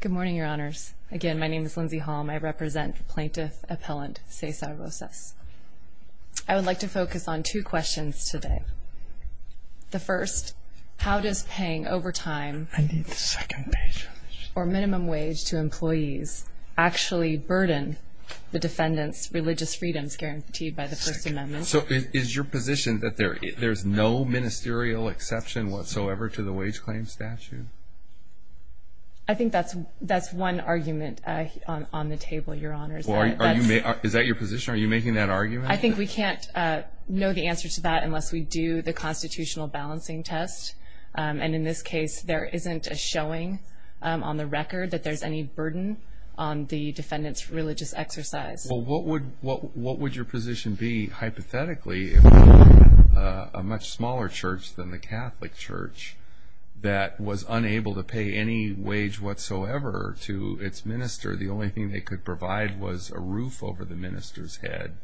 Good morning, Your Honors. Again, my name is Lindsay Holm. I represent Plaintiff Appellant Cesar Rosas. I would like to focus on two questions today. The first, how does paying overtime or minimum wage to employees actually burden the defendant's religious freedoms guaranteed by the First Amendment? So is your position that there's no ministerial exception whatsoever to the wage claim statute? I think that's one argument on the table, Your Honors. Is that your position? Are you making that argument? I think we can't know the answer to that unless we do the constitutional balancing test. And in this case, there isn't a showing on the record that there's any burden on the defendant's religious exercise. Well, what would your position be hypothetically if we had a much smaller church than the Catholic Church that was unable to pay any wage whatsoever to its minister? The only thing they could provide was a roof over the minister's head.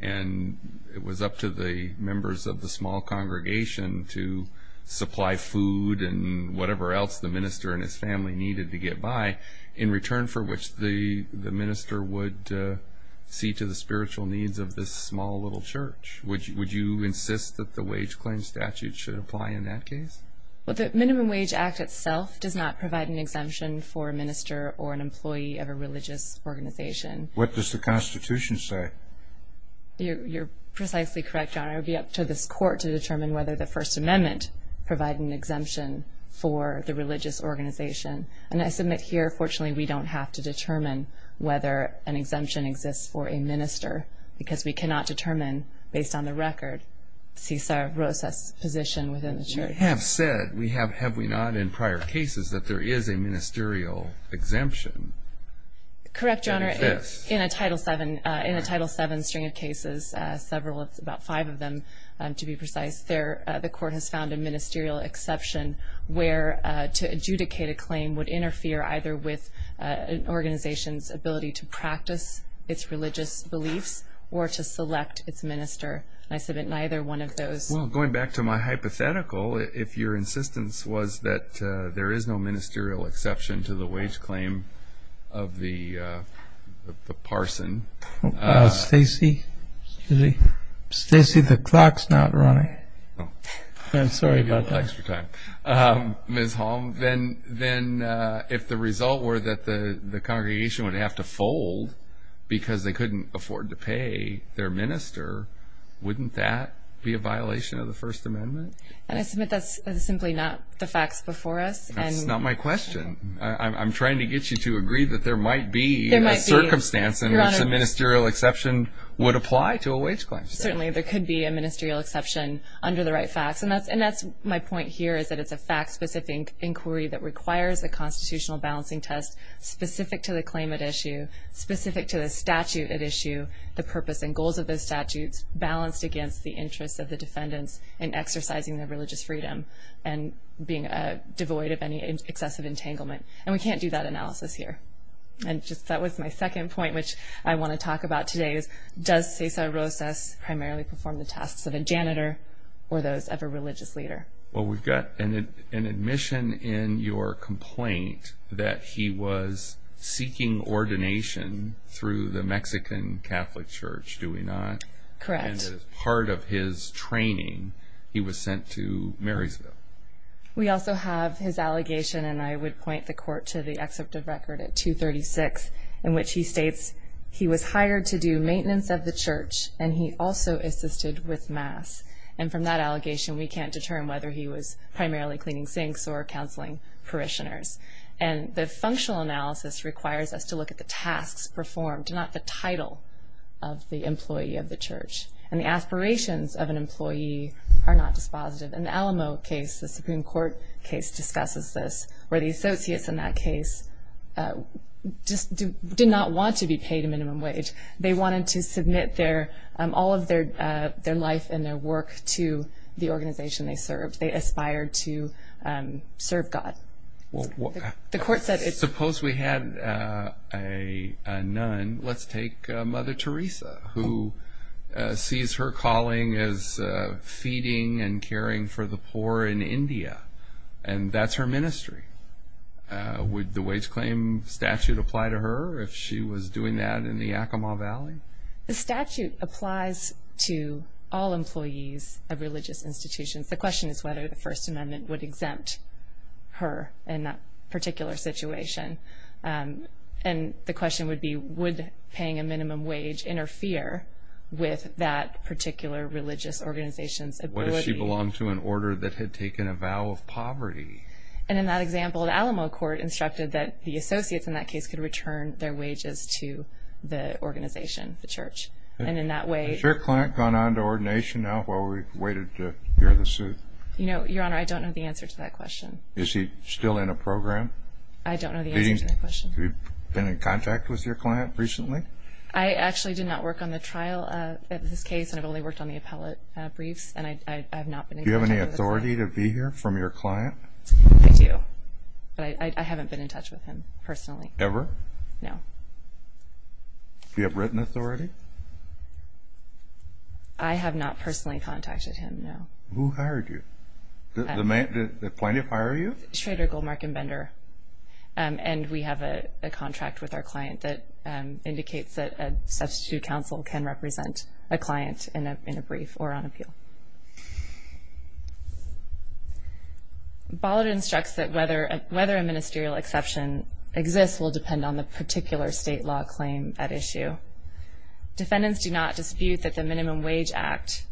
And it was up to the members of the small congregation to supply food and whatever else the minister and his family needed to get by in return for which the minister would see to the spiritual needs of this small little church. Would you insist that the wage claim statute should apply in that case? Well, the Minimum Wage Act itself does not provide an exemption for a minister or an employee of a religious organization. What does the Constitution say? You're precisely correct, Your Honor. It would be up to this Court to determine whether the First Amendment provided an exemption for the religious organization. And I submit here, fortunately, we don't have to determine whether an exemption exists for a minister because we cannot determine, based on the record, Cesar Rosa's position within the church. You have said, have we not, in prior cases that there is a ministerial exemption. Correct, Your Honor. In a Title VII string of cases, several, about five of them to be precise, the Court has found a ministerial exception where to adjudicate a claim would interfere either with an organization's ability to practice its religious beliefs or to select its minister. And I submit neither one of those. Well, going back to my hypothetical, if your insistence was that there is no ministerial exception to the wage claim of the parson. Stacy? Stacy, the clock's not running. I'm sorry about that. Ms. Holm, then if the result were that the congregation would have to fold because they couldn't afford to pay their minister, wouldn't that be a violation of the First Amendment? I submit that's simply not the facts before us. That's not my question. I'm trying to get you to agree that there might be a circumstance in which a ministerial exception would apply to a wage claim. Certainly there could be a ministerial exception under the right facts, and that's my point here is that it's a fact-specific inquiry that requires a constitutional balancing test specific to the claim at issue, specific to the statute at issue, the purpose and goals of those statutes, balanced against the interests of the defendants in exercising their religious freedom and being devoid of any excessive entanglement. And we can't do that analysis here. That was my second point, which I want to talk about today, is does Cesar Rosas primarily perform the tasks of a janitor or those of a religious leader? Well, we've got an admission in your complaint that he was seeking ordination through the Mexican Catholic Church, do we not? Correct. And as part of his training, he was sent to Marysville. We also have his allegation, and I would point the court to the excerpt of record at 236, in which he states he was hired to do maintenance of the church, and he also assisted with mass. And from that allegation, we can't determine whether he was primarily cleaning sinks or counseling parishioners. And the functional analysis requires us to look at the tasks performed and not the title of the employee of the church. And the aspirations of an employee are not dispositive. In the Alamo case, the Supreme Court case discusses this, where the associates in that case just did not want to be paid a minimum wage. They wanted to submit all of their life and their work to the organization they served. They aspired to serve God. Suppose we had a nun. Let's take Mother Teresa, who sees her calling as feeding and caring for the poor in India, and that's her ministry. Would the wage claim statute apply to her if she was doing that in the Yakima Valley? The statute applies to all employees of religious institutions. The question is whether the First Amendment would exempt her in that particular situation. And the question would be, would paying a minimum wage interfere with that particular religious organization's ability? What if she belonged to an order that had taken a vow of poverty? And in that example, the Alamo court instructed that the associates in that case could return their wages to the organization, the church. Has your client gone on to ordination now while we've waited to hear the suit? Your Honor, I don't know the answer to that question. Is he still in a program? I don't know the answer to that question. Have you been in contact with your client recently? I actually did not work on the trial of this case. I've only worked on the appellate briefs, and I've not been in contact with him. Do you have any authority to be here from your client? I do, but I haven't been in touch with him personally. Ever? No. Do you have written authority? I have not personally contacted him, no. Who hired you? Did Plaintiff hire you? Schrader, Goldmark, and Bender, and we have a contract with our client that indicates that a substitute counsel can represent a client in a brief or on appeal. Bollard instructs that whether a ministerial exception exists will depend on the particular state law claim at issue. Defendants do not dispute that the Minimum Wage Act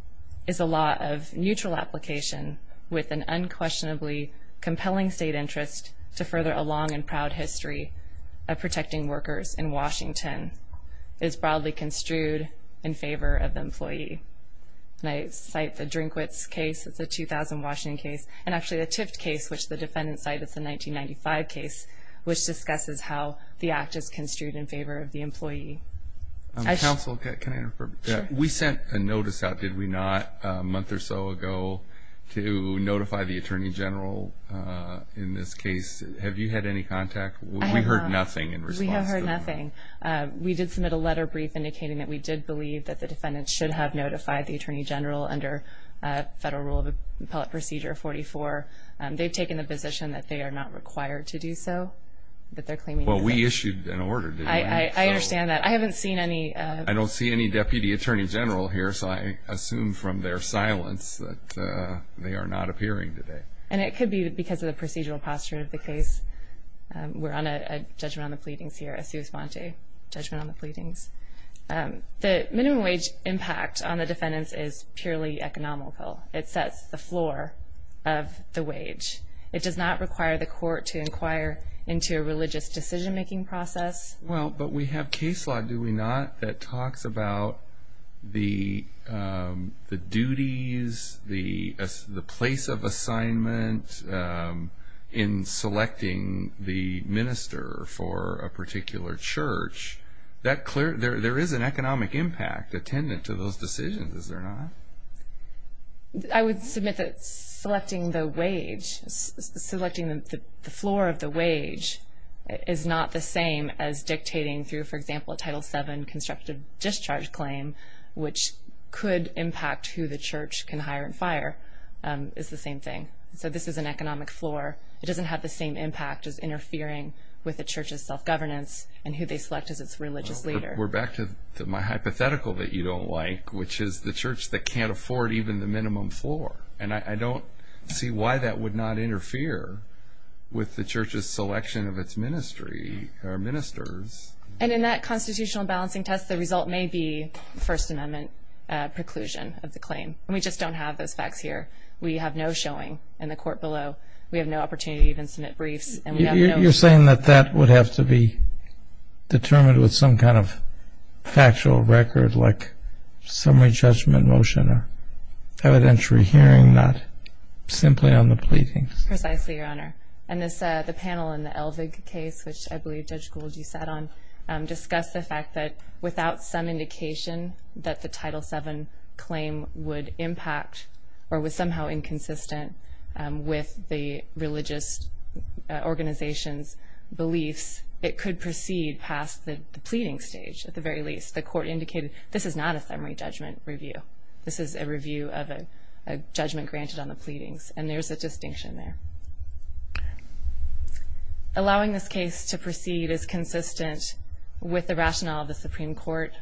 is a law of neutral application with an unquestionably compelling state interest to further a long and proud history of protecting workers in Washington. It is broadly construed in favor of the employee. And I cite the Drinkwits case, it's a 2000 Washington case, and actually the Tift case, which the defendants cite, it's a 1995 case, which discusses how the act is construed in favor of the employee. Counsel, can I interfere? Sure. We sent a notice out, did we not, a month or so ago, to notify the Attorney General in this case. Have you had any contact? We heard nothing in response. We have heard nothing. We did submit a letter brief indicating that we did believe that the defendants should have notified the Attorney General under Federal Rule of Appellate Procedure 44. They've taken the position that they are not required to do so, that they're claiming no such thing. Well, we issued an order. I understand that. I haven't seen any. I don't see any Deputy Attorney General here, so I assume from their silence that they are not appearing today. And it could be because of the procedural posture of the case. We're on a judgment on the pleadings here, a sui sponte judgment on the pleadings. The minimum wage impact on the defendants is purely economical. It sets the floor of the wage. It does not require the court to inquire into a religious decision-making process. Well, but we have case law, do we not, that talks about the duties, the place of assignment in selecting the minister for a particular church. There is an economic impact attendant to those decisions, is there not? I would submit that selecting the wage, selecting the floor of the wage, is not the same as dictating through, for example, a Title VII constructive discharge claim, which could impact who the church can hire and fire, is the same thing. So this is an economic floor. It doesn't have the same impact as interfering with the church's self-governance and who they select as its religious leader. We're back to my hypothetical that you don't like, which is the church that can't afford even the minimum floor. And I don't see why that would not interfere with the church's selection of its ministry or ministers. And in that constitutional balancing test, the result may be First Amendment preclusion of the claim. And we just don't have those facts here. We have no showing in the court below. We have no opportunity to even submit briefs. You're saying that that would have to be determined with some kind of factual record like summary judgment motion or evidentiary hearing, not simply on the pleadings? Precisely, Your Honor. And the panel in the Elvig case, which I believe Judge Gould, you sat on, discussed the fact that without some indication that the Title VII claim would impact or was somehow inconsistent with the religious organization's beliefs, it could proceed past the pleading stage, at the very least. The court indicated this is not a summary judgment review. This is a review of a judgment granted on the pleadings, and there's a distinction there. Allowing this case to proceed is consistent with the rationale of the Supreme Court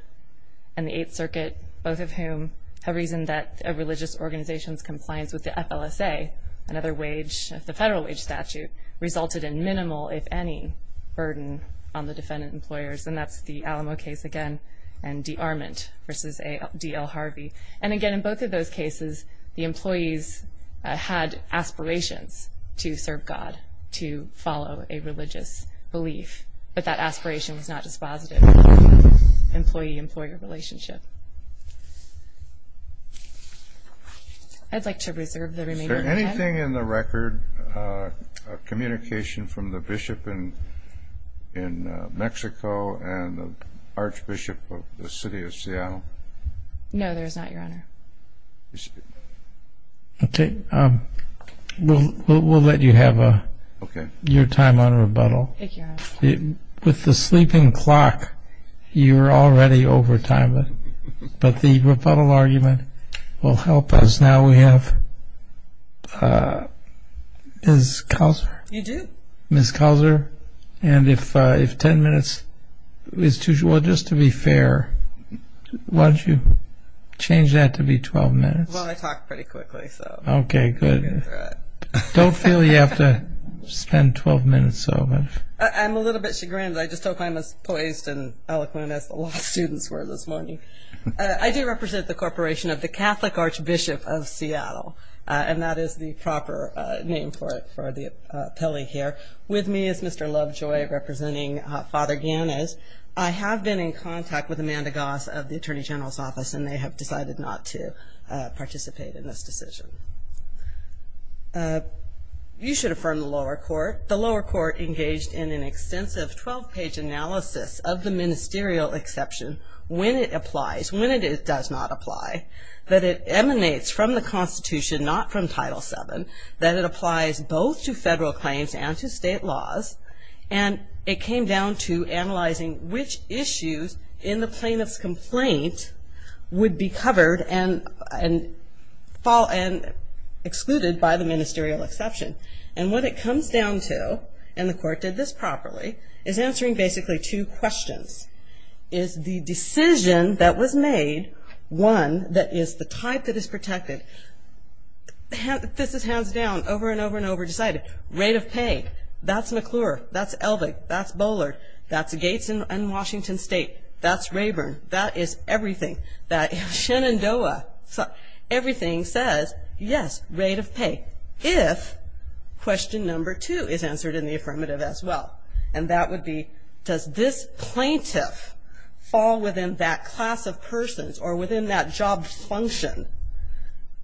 and the Eighth Circuit, both of whom have reasoned that a religious organization's compliance with the FLSA, another wage of the federal wage statute, resulted in minimal, if any, burden on the defendant employers. And that's the Alamo case again and de Arment v. D. L. Harvey. And again, in both of those cases, the employees had aspirations to serve God, to follow a religious belief, but that aspiration was not dispositive of the employee-employer relationship. I'd like to reserve the remainder of my time. Anything in the record of communication from the bishop in Mexico and the archbishop of the city of Seattle? No, there is not, Your Honor. Okay. We'll let you have your time on rebuttal. With the sleeping clock, you're already over time, but the rebuttal argument will help us. Now we have Ms. Kauser. You do? Ms. Kauser. And if 10 minutes is too short, just to be fair, why don't you change that to be 12 minutes? Well, I talk pretty quickly, so I'll get through it. Okay, good. Don't feel you have to spend 12 minutes, though. I'm a little bit chagrined. I just hope I'm as poised and eloquent as the law students were this morning. I do represent the Corporation of the Catholic Archbishop of Seattle, and that is the proper name for the appellee here. With me is Mr. Lovejoy, representing Father Ganez. I have been in contact with Amanda Goss of the Attorney General's Office, and they have decided not to participate in this decision. You should affirm the lower court. The lower court engaged in an extensive 12-page analysis of the ministerial exception when it applies, when it does not apply, that it emanates from the Constitution, not from Title VII, that it applies both to federal claims and to state laws, and it came down to analyzing which issues in the plaintiff's complaint would be covered and excluded by the ministerial exception. And what it comes down to, and the court did this properly, is answering basically two questions. Is the decision that was made one that is the type that is protected? This is hands down, over and over and over decided. Rate of pay. That's McClure. That's Elvig. That's Bollard. That's Gates and Washington State. That's Rayburn. That is everything. That is Shenandoah. Everything says, yes, rate of pay. If question number two is answered in the affirmative as well, and that would be does this plaintiff fall within that class of persons or within that job function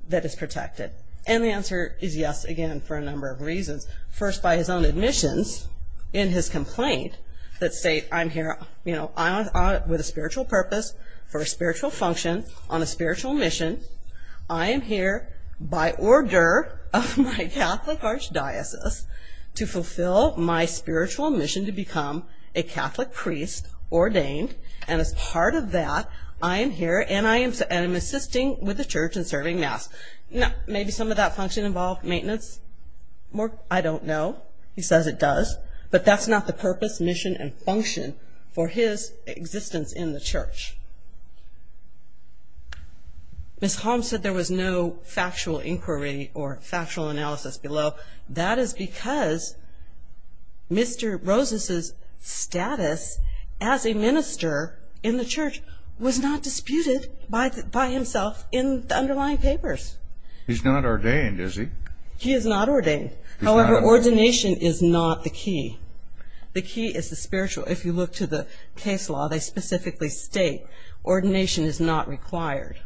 that is protected? And the answer is yes, again, for a number of reasons. First, by his own admissions in his complaint that state I'm here with a spiritual purpose, for a spiritual function, on a spiritual mission. I am here by order of my Catholic archdiocese to fulfill my spiritual mission to become a Catholic priest ordained, and as part of that I am here and I am assisting with the church and serving mass. Maybe some of that function involved maintenance. I don't know. He says it does. But that's not the purpose, mission, and function for his existence in the church. Ms. Holmes said there was no factual inquiry or factual analysis below. That is because Mr. Rosas' status as a minister in the church was not disputed by himself in the underlying papers. He's not ordained, is he? He is not ordained. However, ordination is not the key. The key is the spiritual. If you look to the case law, they specifically state ordination is not required.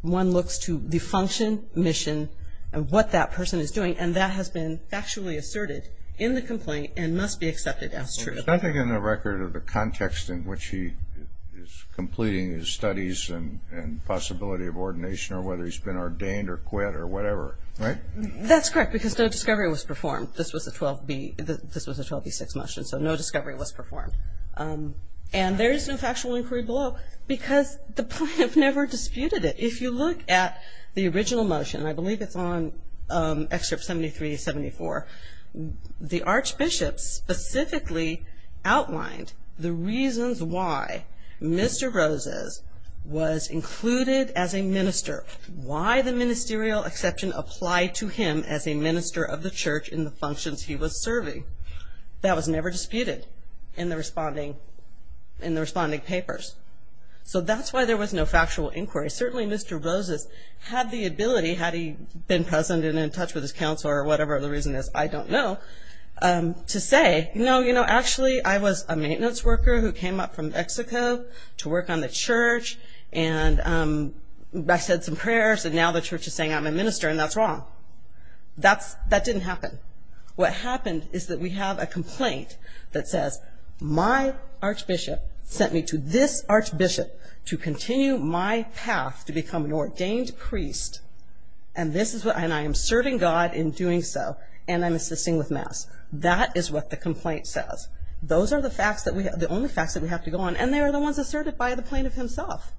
One looks to the function, mission, and what that person is doing, and that has been factually asserted in the complaint and must be accepted as true. There's nothing in the record of the context in which he is completing his studies and possibility of ordination or whether he's been ordained or quit or whatever, right? That's correct because no discovery was performed. This was a 12b6 motion, so no discovery was performed. And there is no factual inquiry below because the plaintiff never disputed it. If you look at the original motion, I believe it's on excerpt 73-74, the archbishop specifically outlined the reasons why Mr. Rosas was included as a minister, why the ministerial exception applied to him as a minister of the church in the functions he was serving. That was never disputed in the responding papers. So that's why there was no factual inquiry. Certainly Mr. Rosas had the ability, had he been present and in touch with his counselor or whatever the reason is, I don't know, to say, no, you know, actually I was a maintenance worker who came up from Mexico to work on the church and I said some prayers and now the church is saying I'm a minister and that's wrong. That didn't happen. What happened is that we have a complaint that says, my archbishop sent me to this archbishop to continue my path to become an ordained priest and I am serving God in doing so and I'm assisting with mass. That is what the complaint says. Those are the facts, the only facts that we have to go on and they are the ones asserted by the plaintiff himself.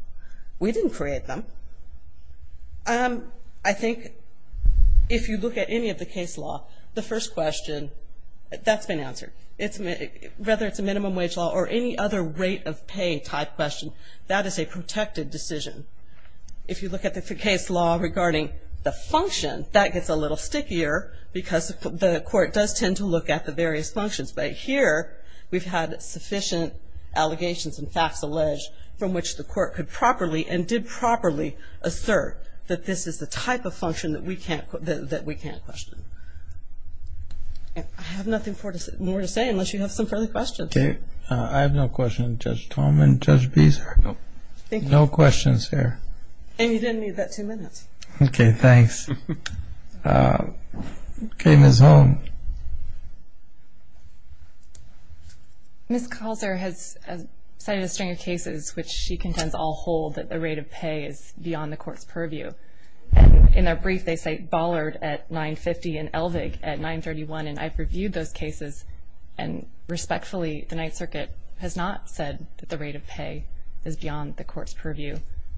We didn't create them. I think if you look at any of the case law, the first question, that's been answered. Whether it's a minimum wage law or any other rate of pay type question, that is a protected decision. If you look at the case law regarding the function, that gets a little stickier because the court does tend to look at the various functions. But here we've had sufficient allegations and facts alleged from which the court could properly and did properly assert that this is the type of function that we can't question. I have nothing more to say unless you have some further questions. Okay. I have no questions. Judge Tolman, Judge Beeser, no questions here. And you didn't need that two minutes. Okay. Thanks. Okay. Ms. Holm. Ms. Calzer has cited a string of cases which she contends all hold that the rate of pay is beyond the court's purview. In their brief, they say Bollard at 950 and Elvig at 931, and I've reviewed those cases and respectfully the Ninth Circuit has not said that the rate of pay is beyond the court's purview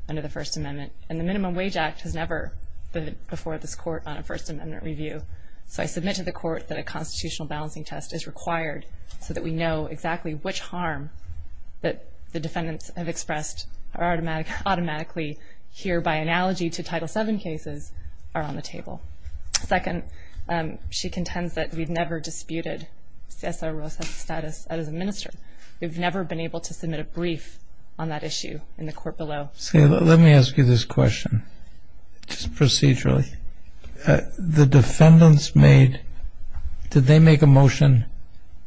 under the First Amendment. And the Minimum Wage Act has never been before this court on a First Amendment review. So I submit to the court that a constitutional balancing test is required so that we know exactly which harm that the defendants have expressed are automatically here by analogy to Title VII cases are on the table. Second, she contends that we've never disputed Cesar Rosa's status as a minister. We've never been able to submit a brief on that issue in the court below. Let me ask you this question, just procedurally. The defendants made, did they make a motion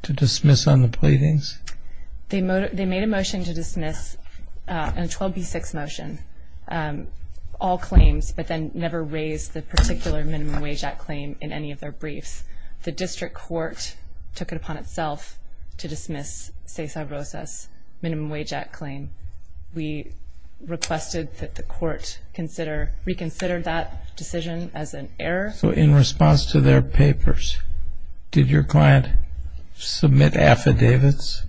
to dismiss on the pleadings? They made a motion to dismiss, a 12B6 motion, all claims, but then never raised the particular Minimum Wage Act claim in any of their briefs. The district court took it upon itself to dismiss Cesar Rosa's Minimum Wage Act claim. We requested that the court reconsider that decision as an error. So in response to their papers, did your client submit affidavits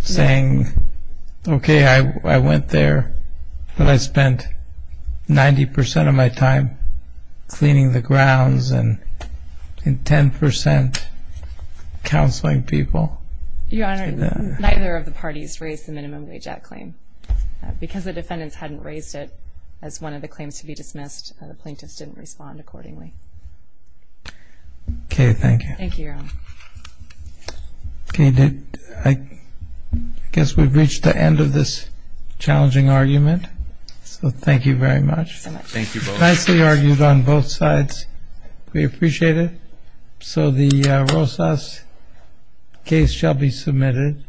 saying, okay, I went there, but I spent 90% of my time cleaning the grounds and 10% counseling people? Your Honor, neither of the parties raised the Minimum Wage Act claim. Because the defendants hadn't raised it as one of the claims to be dismissed, the plaintiffs didn't respond accordingly. Okay, thank you. Thank you, Your Honor. Okay, I guess we've reached the end of this challenging argument, so thank you very much. Thank you both. Nicely argued on both sides. We appreciate it. So the Rosas case shall be submitted.